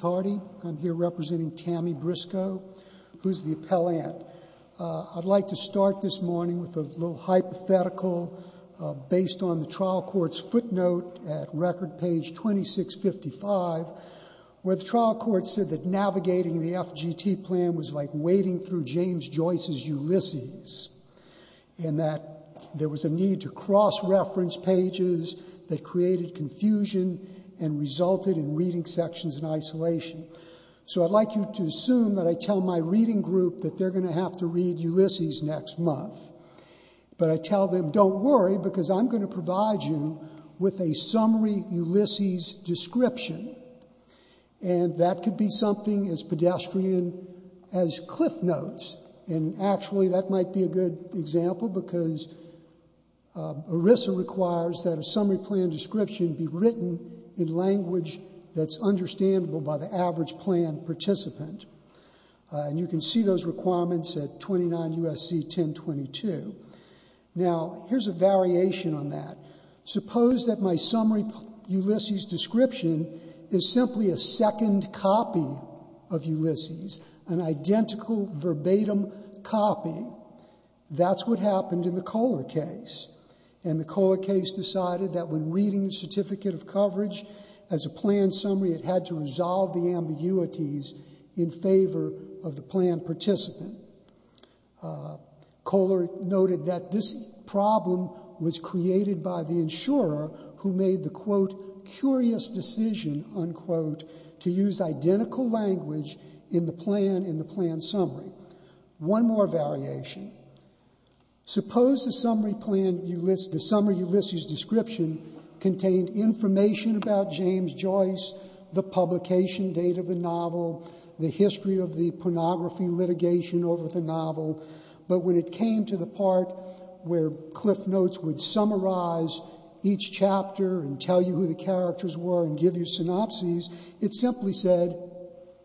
Harding, representing TAMI Briscoe, the appellant. I'd like to start this morning with a hypothetical based on the trial court's footnote at record page 2655, where the trial court said that navigating the FGT plan was like wading through James Joyce's Ulysses, and that there was a need to cross-reference pages that created confusion and resulted in reading sections in isolation. So I'd like you to assume that I tell my reading group that they're going to have to read Ulysses next month, but I tell them, don't worry, because I'm going to provide you with a summary Ulysses description, and that could be something as pedestrian as cliff notes. And actually, that might be a good example, because ERISA requires that a summary plan description be written in language that's understandable by the average plan participant. And you can see those requirements at 29 U.S.C. 1022. Now, here's a variation on that. Suppose that my summary Ulysses description is simply a second copy of Ulysses, an identical verbatim copy. That's what happened in the Kohler case, and the Kohler case decided that when reading the certificate of coverage as a plan summary, it had to resolve the ambiguities in favor of the plan participant. Kohler noted that this problem was created by the insurer who made the, quote, curious decision, unquote, to use identical language in the plan in the plan summary. One more variation. Suppose the summary Ulysses description contained information about James Joyce, the publication date of the novel, the history of the pornography litigation over the novel, but when it came to the part where cliff notes would summarize each chapter and tell you who the characters were and give you synopses, it simply said,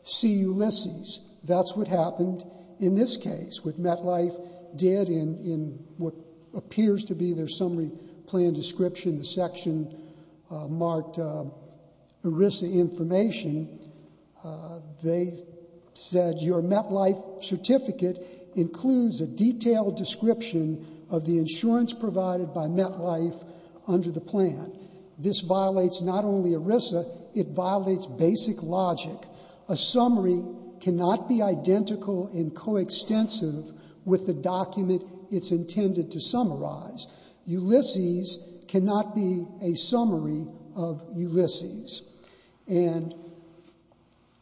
see Ulysses. That's what happened in this case, what MetLife did in what appears to be their summary plan description, the section marked ERISA information. They said your MetLife certificate includes a detailed description of the insurance provided by MetLife under the plan. This violates not only ERISA, it violates basic logic. A summary cannot be identical and coextensive with the document it's intended to summarize. Ulysses cannot be a summary of Ulysses. And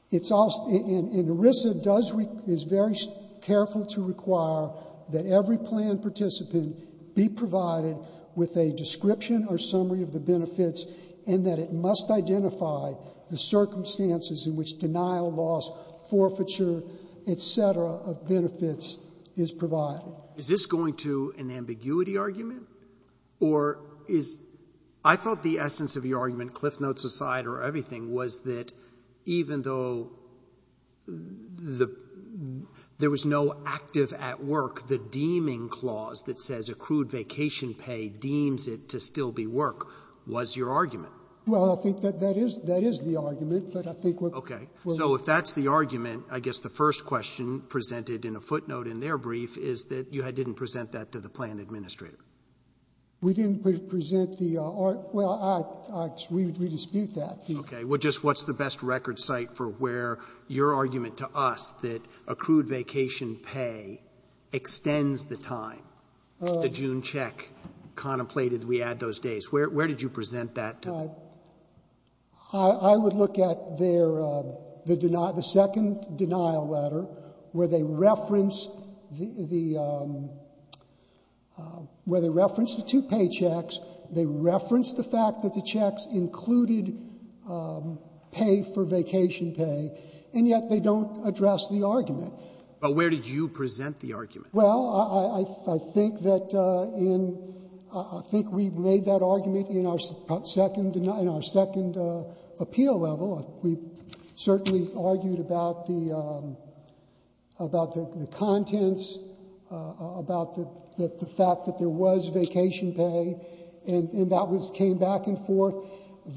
it's also — and ERISA does — is very careful to require that every plan participant be provided with a description or summary of the benefits and that it must identify the circumstances in which denial, loss, forfeiture, et cetera, of benefits is provided. Roberts. Is this going to an ambiguity argument? Or is — I thought the essence of your argument, cliff notes aside or everything, was that even though the — there was no active at work, the deeming clause that says accrued vacation pay deems it to still be work was your argument. Well, I think that that is — that is the argument, but I think what — So if that's the argument, I guess the first question presented in a footnote in their brief is that you didn't present that to the plan administrator. We didn't present the — well, we dispute that. Okay. Well, just what's the best record site for where your argument to us that accrued vacation pay extends the time, the June check contemplated we add those days. Where did you present that to them? I would look at their — the second denial letter where they reference the — where they reference the two paychecks, they reference the fact that the checks included pay for vacation pay, and yet they don't address the argument. Well, I think that in — I think we've made that argument in our second — in our second appeal level. We've certainly argued about the — about the contents, about the fact that there was vacation pay, and that was — came back and forth.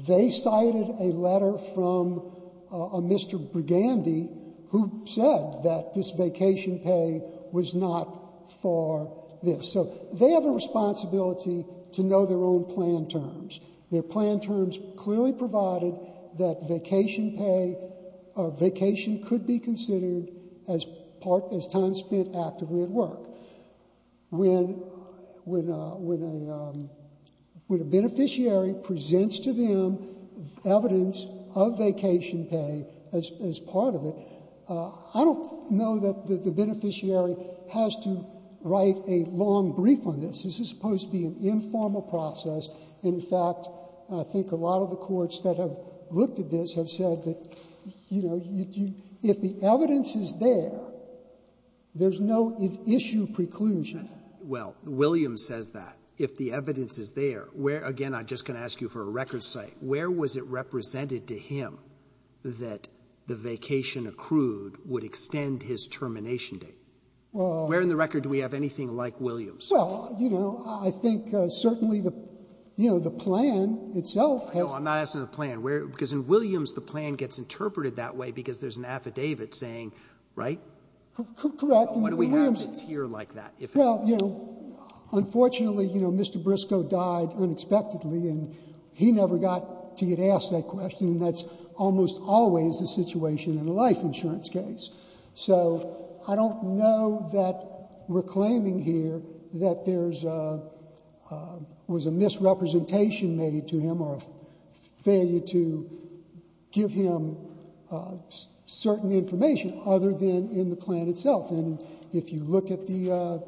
They cited a letter from a Mr. Brigandy who said that this vacation pay was not for this. So they have a responsibility to know their own plan terms. Their plan terms clearly provided that vacation pay or vacation could be considered when a beneficiary presents to them evidence of vacation pay as part of it. I don't know that the beneficiary has to write a long brief on this. This is supposed to be an informal process. In fact, I think a lot of the courts that have looked at this have said that, you know, if the evidence is there, there's no issue preclusion. Well, Williams says that. If the evidence is there, where — again, I'm just going to ask you for a record cite — where was it represented to him that the vacation accrued would extend his termination date? Well — Where in the record do we have anything like Williams? Well, you know, I think certainly the — you know, the plan itself has — No, I'm not asking the plan. Because in Williams, the plan gets interpreted that way because there's an affidavit saying — right? Correct. What do we have that's here like that? Well, you know, unfortunately, you know, Mr. Briscoe died unexpectedly, and he never got to get asked that question, and that's almost always the situation in a life insurance case. So I don't know that we're claiming here that there's a — was a misrepresentation made to him or a failure to give him certain information other than in the plan itself. And if you look at the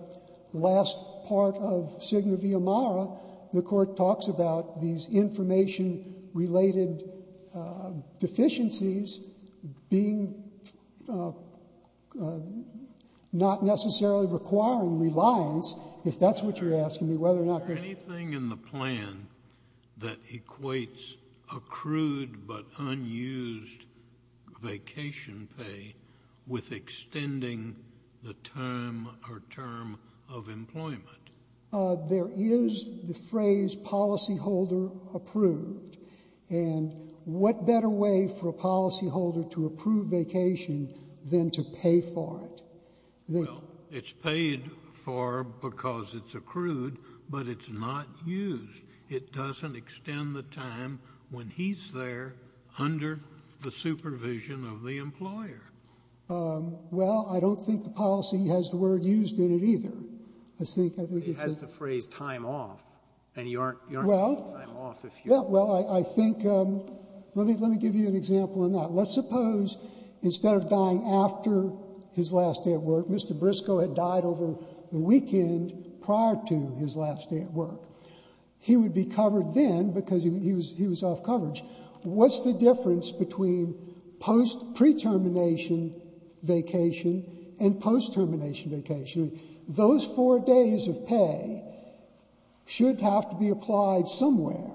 last part of Signa Via Mara, the Court talks about these information-related deficiencies being not necessarily requiring reliance, if that's what you're asking me, whether or not there's — There's nothing in the plan that equates accrued but unused vacation pay with extending the term or term of employment. There is the phrase policyholder approved. And what better way for a policyholder to approve vacation than to pay for it? Well, it's paid for because it's accrued, but it's not used. It doesn't extend the time when he's there under the supervision of the employer. Well, I don't think the policy has the word used in it either. I think — It has the phrase time off, and you aren't — Well — You aren't getting time off if you — Yeah, well, I think — let me give you an example on that. Let's suppose instead of dying after his last day at work, Mr. Briscoe had died over the weekend prior to his last day at work. He would be covered then because he was off coverage. What's the difference between pre-termination vacation and post-termination vacation? Those four days of pay should have to be applied somewhere.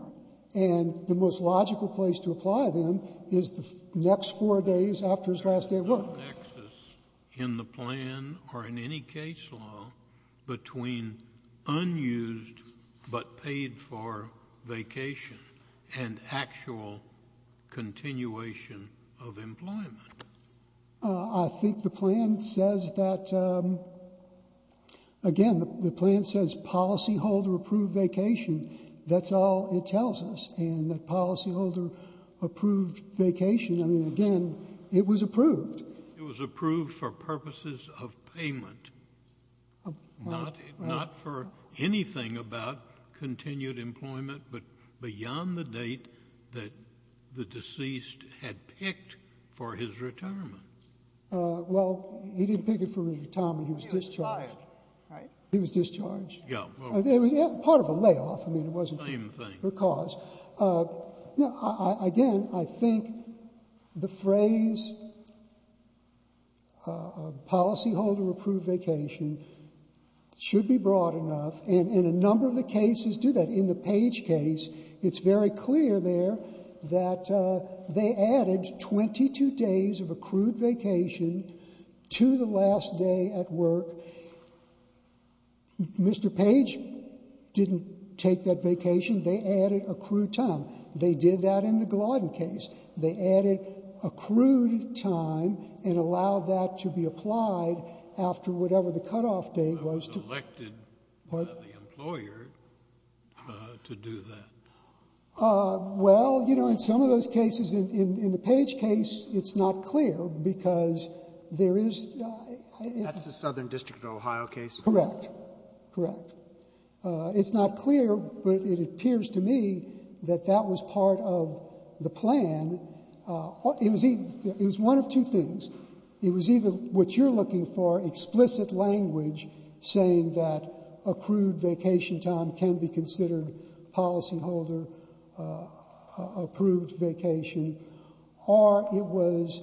And the most logical place to apply them is the next four days after his last day at work. There's no nexus in the plan or in any case law between unused but paid for vacation and actual continuation of employment. I think the plan says that — again, the plan says policyholder approved vacation. That's all it tells us. And that policyholder approved vacation, I mean, again, it was approved. It was approved for purposes of payment, not for anything about continued employment, but beyond the date that the deceased had picked for his retirement. Well, he didn't pick it for his retirement. He was discharged. He was fired, right? He was discharged. Yeah. Part of a layoff. I mean, it wasn't for a cause. Again, I think the phrase policyholder approved vacation should be broad enough. And a number of the cases do that. In the Page case, it's very clear there that they added 22 days of accrued vacation to the last day at work. Mr. Page didn't take that vacation. They added accrued time. They did that in the Glodden case. They added accrued time and allowed that to be applied after whatever the cutoff date was. I was elected the employer to do that. Well, you know, in some of those cases, in the Page case, it's not clear because there is — That's the Southern District of Ohio case. Correct. Correct. It's not clear, but it appears to me that that was part of the plan. It was one of two things. It was either what you're looking for, explicit language saying that accrued vacation time can be considered policyholder approved vacation, or it was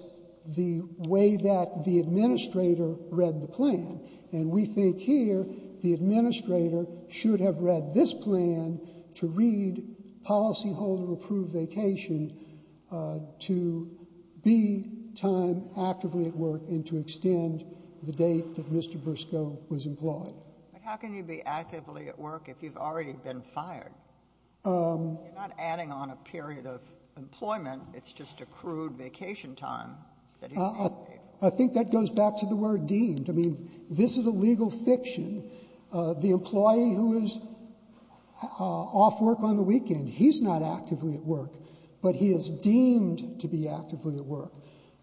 the way that the administrator read the plan. And we think here the administrator should have read this plan to read policyholder approved vacation to be time actively at work and to extend the date that Mr. Briscoe was employed. But how can you be actively at work if you've already been fired? You're not adding on a period of employment. It's just accrued vacation time. I think that goes back to the word deemed. I mean, this is a legal fiction. The employee who is off work on the weekend, he's not actively at work, but he is deemed to be actively at work.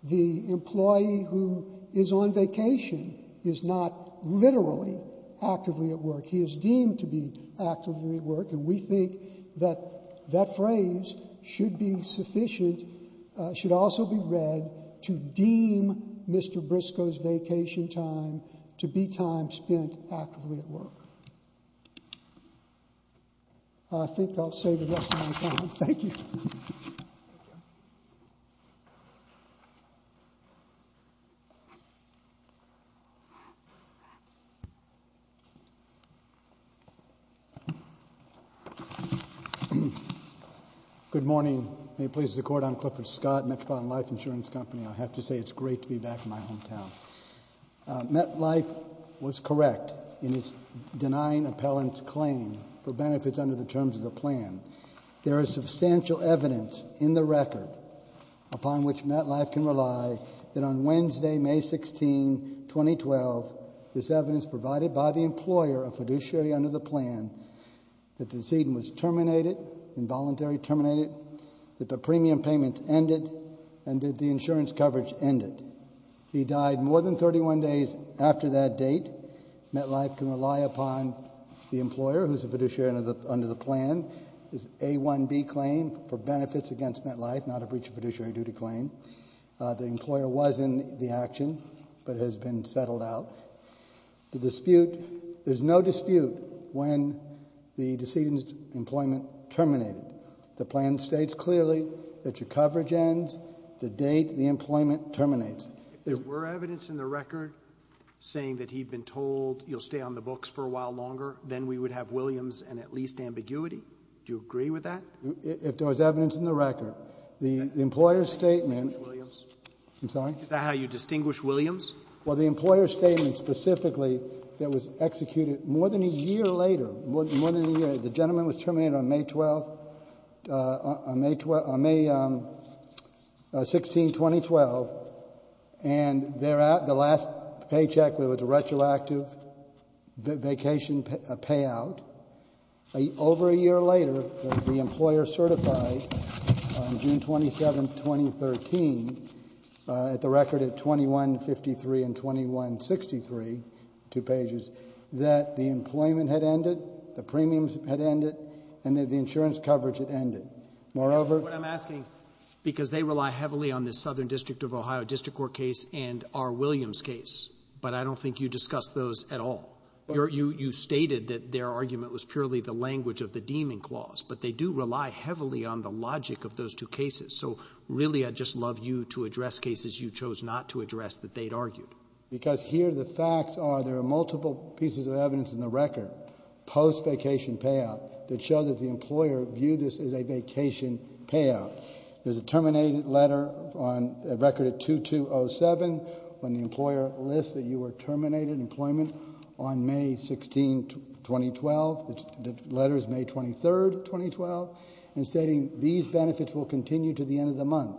The employee who is on vacation is not literally actively at work. He is deemed to be actively at work, and we think that that phrase should be sufficient, should also be read to deem Mr. Briscoe's vacation time to be time spent actively at work. I think I'll save the rest of my time. Thank you. Good morning. May it please the Court, I'm Clifford Scott, Metropolitan Life Insurance Company. I have to say it's great to be back in my hometown. MetLife was correct in its denying appellant's claim for benefits under the terms of the plan. There is substantial evidence in the record upon which MetLife can rely that on Wednesday, May 16, 2012, this evidence provided by the employer, a fiduciary under the plan, that the ZDN was terminated, involuntary terminated, that the premium payments ended, and that the insurance coverage ended. He died more than 31 days after that date. MetLife can rely upon the employer, who's a fiduciary under the plan, this A1B claim for benefits against MetLife, not a breach of fiduciary duty claim. The employer was in the action, but has been settled out. The dispute, there's no dispute when the decedent's employment terminated. The plan states clearly that your coverage ends the date the employment terminates. If there were evidence in the record saying that he'd been told, you'll stay on the books for a while longer, then we would have Williams and at least ambiguity. Do you agree with that? If there was evidence in the record. The employer's statement — Is that how you distinguish Williams? I'm sorry? Is that how you distinguish Williams? Well, the employer's statement specifically that was executed more than a year later, more than a year. The gentleman was terminated on May 12th, on May 16, 2012. And the last paycheck was a retroactive vacation payout. Over a year later, the employer certified on June 27th, 2013, at the record at 2153 and 2163, two pages, that the employment had ended, the premiums had ended, and that the insurance coverage had ended. Moreover — That's what I'm asking, because they rely heavily on this Southern District of Ohio District Court case and R. Williams case. But I don't think you discussed those at all. You stated that their argument was purely the language of the deeming clause, but they do rely heavily on the logic of those two cases. So, really, I'd just love you to address cases you chose not to address that they'd argued. Because here the facts are there are multiple pieces of evidence in the record, post-vacation payout, that show that the employer viewed this as a vacation payout. There's a terminated letter on — a record at 2207, when the employer lists that you were terminated in employment on May 16, 2012. The letter is May 23rd, 2012, and stating these benefits will continue to the end of the month,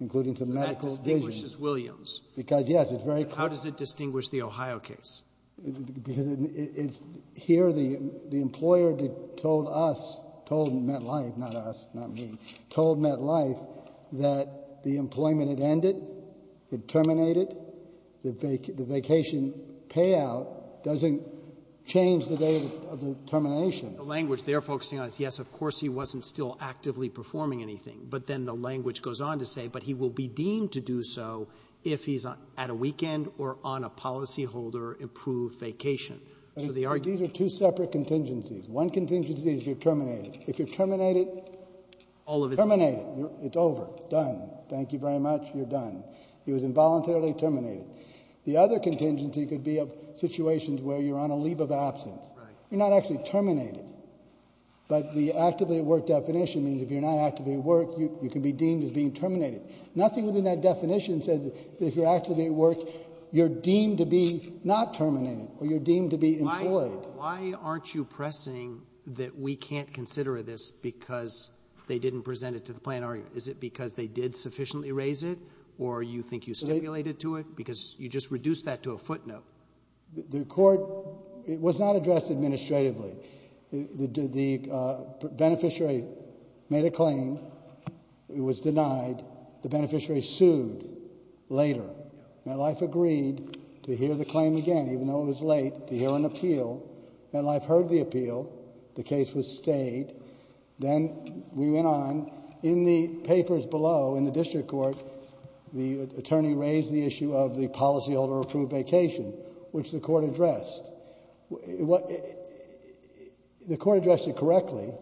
including to medical — So that distinguishes Williams. Because, yes, it's very — How does it distinguish the Ohio case? Because here the employer told us, told MetLife, not us, not me, told MetLife that the employment had ended, had terminated. The vacation payout doesn't change the date of the termination. The language they're focusing on is, yes, of course he wasn't still actively performing anything. But then the language goes on to say, but he will be deemed to do so if he's at a weekend or on a policyholder-approved vacation. So the argument — These are two separate contingencies. One contingency is you're terminated. If you're terminated — All of it. Terminated. It's over. Done. Thank you very much. You're done. He was involuntarily terminated. The other contingency could be of situations where you're on a leave of absence. You're not actually terminated. But the actively at work definition means if you're not actively at work, you can be deemed as being terminated. Nothing within that definition says that if you're actively at work, you're deemed to be not terminated or you're deemed to be employed. Why aren't you pressing that we can't consider this because they didn't present it to the plaintiff? Is it because they did sufficiently raise it or you think you stipulated to it because you just reduced that to a footnote? The court — it was not addressed administratively. The beneficiary made a claim. It was denied. The beneficiary sued later. MetLife agreed to hear the claim again, even though it was late, to hear an appeal. MetLife heard the appeal. The case was stayed. Then we went on. In the papers below, in the district court, the attorney raised the issue of the policyholder-approved vacation, which the court addressed. The court addressed it correctly.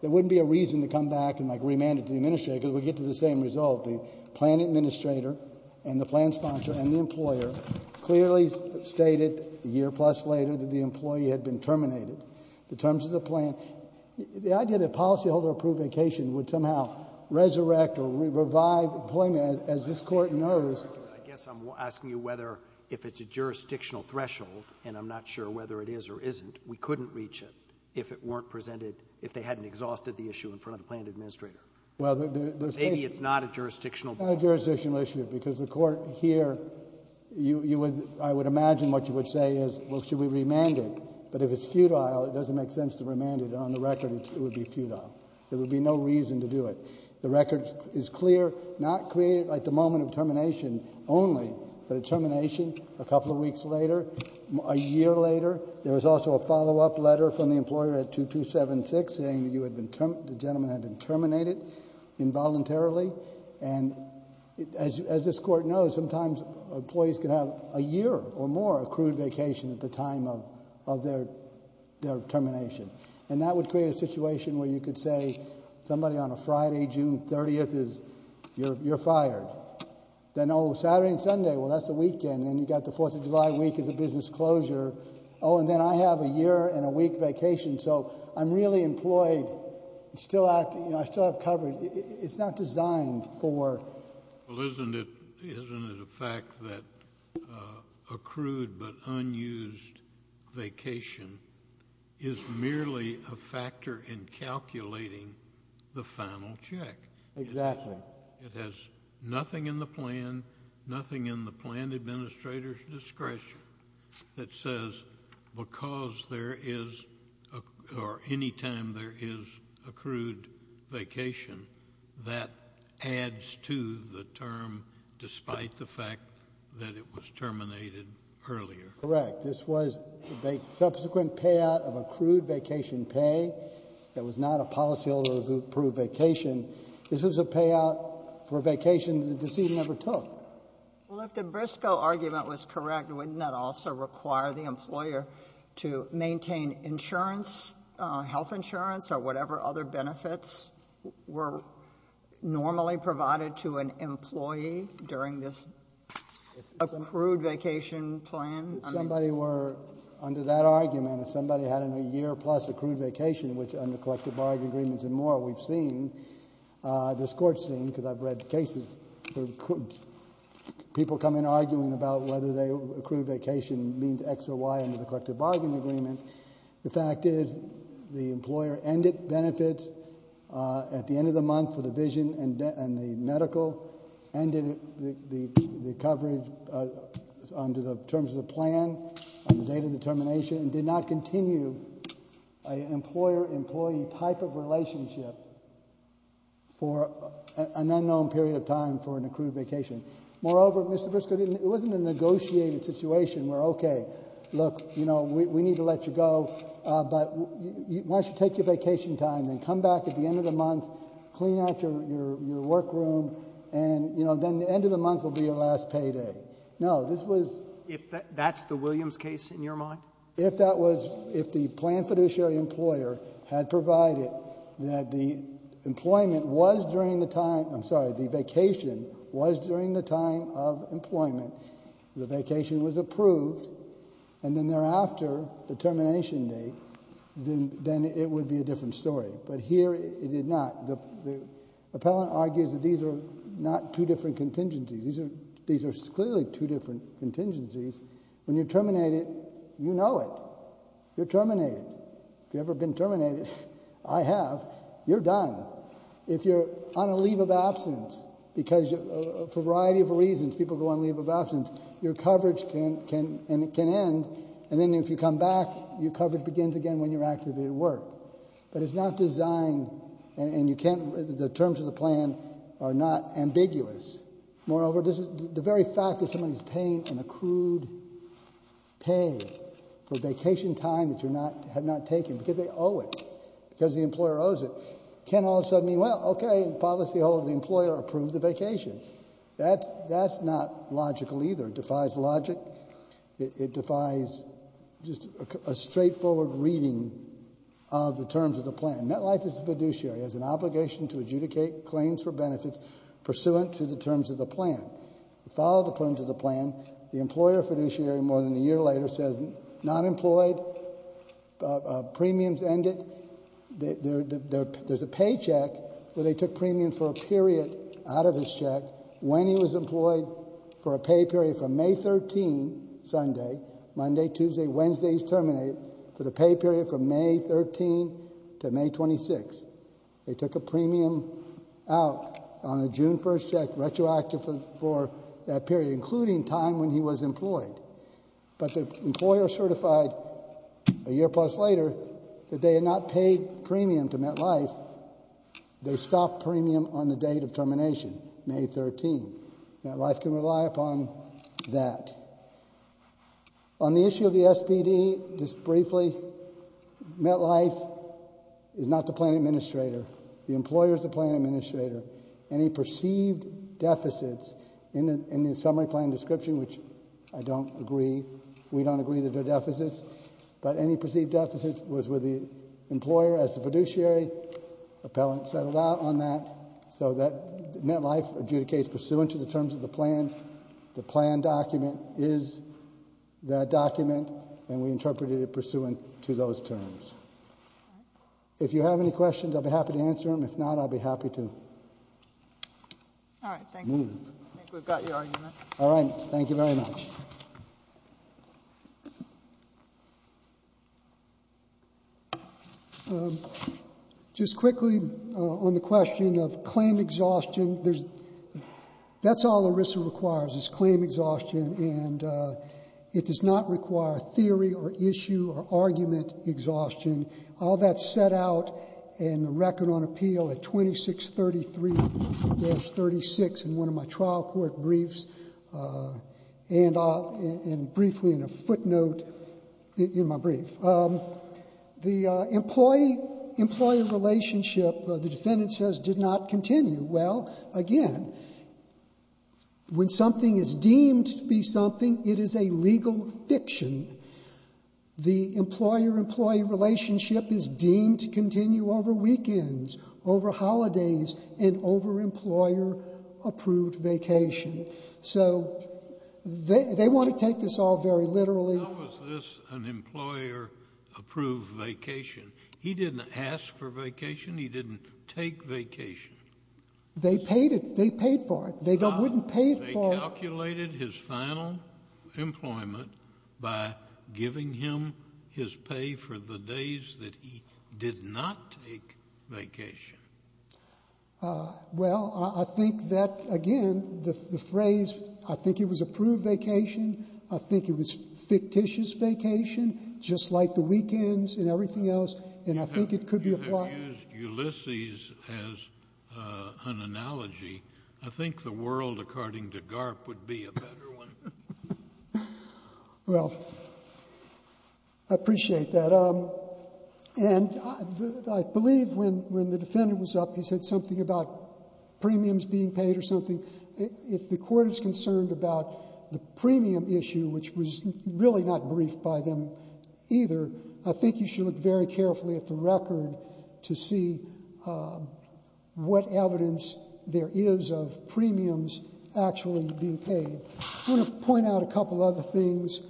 There wouldn't be a reason to come back and, like, remand it to the administrator because we'd get to the same result. The plan administrator and the plan sponsor and the employer clearly stated a year-plus later that the employee had been terminated. The terms of the plan — the idea that policyholder-approved vacation would somehow resurrect or revive employment, as this Court knows — I guess I'm asking you whether, if it's a jurisdictional threshold, and I'm not sure whether it is or isn't, we couldn't reach it if it weren't presented — if they hadn't exhausted the issue in front of the plan administrator. Maybe it's not a jurisdictional issue. Not a jurisdictional issue because the Court here, you would — I would imagine what you would say is, well, should we remand it? But if it's futile, it doesn't make sense to remand it. On the record, it would be futile. There would be no reason to do it. The record is clear, not created at the moment of termination only, but a termination a couple of weeks later, a year later. There was also a follow-up letter from the employer at 2276 saying that you had been — the gentleman had been terminated involuntarily. And as this Court knows, sometimes employees can have a year or more accrued vacation at the time of their termination. And that would create a situation where you could say, somebody on a Friday, June 30th is — you're fired. Then, oh, Saturday and Sunday, well, that's a weekend. Then you've got the Fourth of July week as a business closure. Oh, and then I have a year-and-a-week vacation, so I'm really employed. It's still — you know, I still have coverage. It's not designed for — Well, isn't it a fact that accrued but unused vacation is merely a factor in calculating the final check? Exactly. It has nothing in the plan, nothing in the plan administrator's discretion that says because there is — or any time there is accrued vacation, that adds to the term despite the fact that it was terminated earlier. Correct. This was the subsequent payout of accrued vacation pay. It was not a policyholder-approved vacation. This was a payout for a vacation that the deceit never took. Well, if the Briscoe argument was correct, wouldn't that also require the employer to maintain insurance, health insurance or whatever other benefits were normally provided to an employee during this accrued vacation plan? If somebody were — under that argument, if somebody had a year-plus accrued vacation, which under collective bargain agreements and more we've seen, this Court's seen, because I've read cases where people come in arguing about whether they — accrued vacation means X or Y under the collective bargain agreement. The fact is the employer ended benefits at the end of the month for the vision and the medical, ended the coverage under the terms of the plan on the date of the termination and did not continue an employer-employee type of relationship for an unknown period of time for an accrued vacation. Moreover, Mr. Briscoe, it wasn't a negotiated situation where, okay, look, you know, we need to let you go, but why don't you take your vacation time, then come back at the end of the month, clean out your workroom, and, you know, then the end of the month will be your last payday. No. This was — If that's the Williams case in your mind? If that was — if the planned fiduciary employer had provided that the employment was during the time — I'm sorry, the vacation was during the time of employment, the vacation was approved, and then thereafter, the termination date, then it would be a different story. But here it did not. The appellant argues that these are not two different contingencies. These are clearly two different contingencies. When you terminate it, you know it. You're terminated. Have you ever been terminated? I have. You're done. If you're on a leave of absence, because for a variety of reasons people go on leave of absence, your coverage can end, and then if you come back, your coverage begins again when you're active at work. But it's not designed — and you can't — the terms of the plan are not ambiguous. Moreover, the very fact that somebody is paying an accrued pay for vacation time that you're not — have not taken because they owe it, because the employer owes it, can't all of a sudden mean, well, OK, the policyholder, the employer approved the vacation. That's not logical either. It defies logic. It defies just a straightforward reading of the terms of the plan. MetLife is a fiduciary. It has an obligation to adjudicate claims for benefits pursuant to the terms of the plan. It followed the terms of the plan. The employer fiduciary more than a year later says not employed, premiums ended. There's a paycheck where they took premiums for a period out of his check when he was employed for a pay period from May 13th, Sunday, Monday, Tuesday, Wednesday he's terminated, for the pay period from May 13th to May 26th. They took a premium out on a June 1st check retroactive for that period, including time when he was employed. But the employer certified a year plus later that they had not paid premium to MetLife. They stopped premium on the date of termination, May 13th. MetLife can rely upon that. On the issue of the SBD, just briefly, MetLife is not the plan administrator. The employer is the plan administrator. Any perceived deficits in the summary plan description, which I don't agree, we don't agree that they're deficits, but any perceived deficits was with the employer as the fiduciary. Appellant settled out on that, so that MetLife adjudicates pursuant to the terms of the plan. The plan document is that document, and we interpreted it pursuant to those terms. If you have any questions, I'll be happy to answer them. If not, I'll be happy to move. All right, thank you. I think we've got your argument. All right, thank you very much. Just quickly on the question of claim exhaustion, that's all ERISA requires is claim exhaustion, and it does not require theory or issue or argument exhaustion. All that's set out in the record on appeal at 2633-36 in one of my trial court briefs, and briefly in a footnote in my brief. The employee-employee relationship, the defendant says, did not continue. Well, again, when something is deemed to be something, it is a legal fiction. The employer-employee relationship is deemed to continue over weekends, over holidays, and over employer-approved vacation. So they want to take this all very literally. How was this an employer-approved vacation? He didn't ask for vacation. He didn't take vacation. They paid for it. They wouldn't pay for it. They calculated his final employment by giving him his pay for the days that he did not take vacation. Well, I think that, again, the phrase, I think it was approved vacation, I think it was fictitious vacation, just like the weekends and everything else, and I think it could be applied. You have used Ulysses as an analogy. I think the world, according to Garp, would be a better one. Well, I appreciate that. And I believe when the defendant was up, he said something about premiums being paid or something. If the Court is concerned about the premium issue, which was really not briefed by them either, I think you should look very carefully at the record to see what evidence there is of premiums actually being paid. I want to point out a couple other things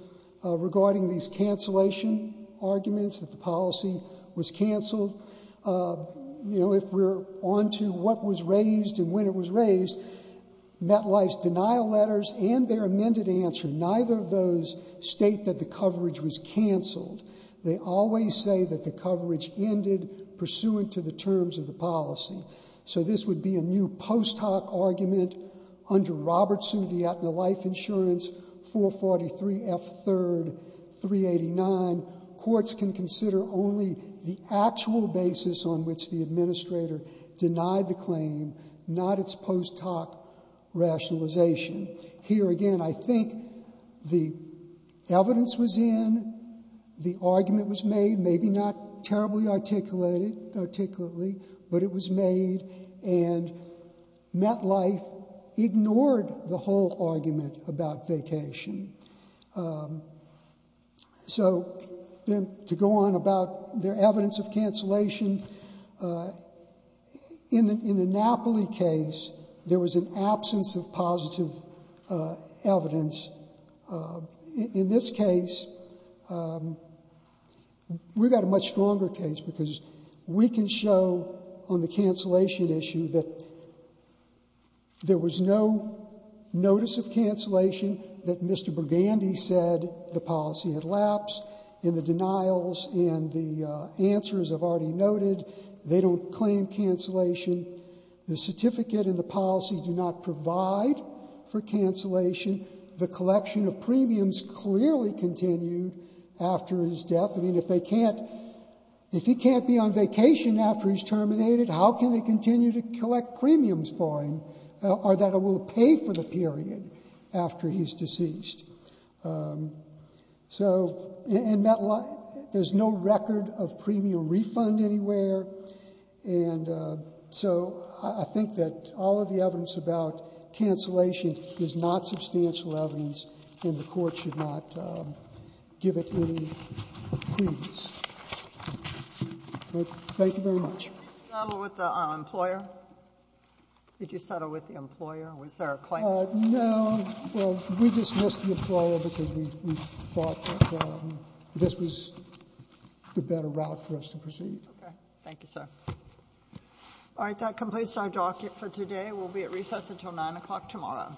regarding these cancellation arguments, that the policy was canceled. You know, if we're on to what was raised and when it was raised, MetLife's denial letters and their amended answer, neither of those state that the coverage was canceled. They always say that the coverage ended pursuant to the terms of the policy. So this would be a new post hoc argument under Robertson, Vietna Life Insurance, 443F3, 389. Courts can consider only the actual basis on which the administrator denied the claim, not its post hoc rationalization. Here again, I think the evidence was in, the argument was made, maybe not terribly articulately, but it was made, and MetLife ignored the whole argument about vacation. So, to go on about their evidence of cancellation, in the Napoli case, there was an absence of positive evidence. In this case, we've got a much stronger case because we can show on the cancellation issue that there was no notice of cancellation, that Mr. Burgandy said the policy had lapsed, and the denials and the answers I've already noted, they don't claim cancellation. The certificate and the policy do not provide for cancellation. The collection of premiums clearly continued after his death. I mean, if they can't, if he can't be on vacation after he's terminated, how can they continue to collect premiums for him, or that he will pay for the period after he's deceased? So, and MetLife, there's no record of premium refund anywhere, and so I think that all of the evidence about cancellation is not substantial evidence, and the Court should not give it any credence. Thank you very much. Sotomayor, did you settle with the employer? Did you settle with the employer? Was there a claimant? No. Well, we dismissed the employer because we thought that this was the better route for us to proceed. Okay. Thank you, sir. All right, that completes our docket for today. We'll be at recess until 9 o'clock tomorrow. Thank you.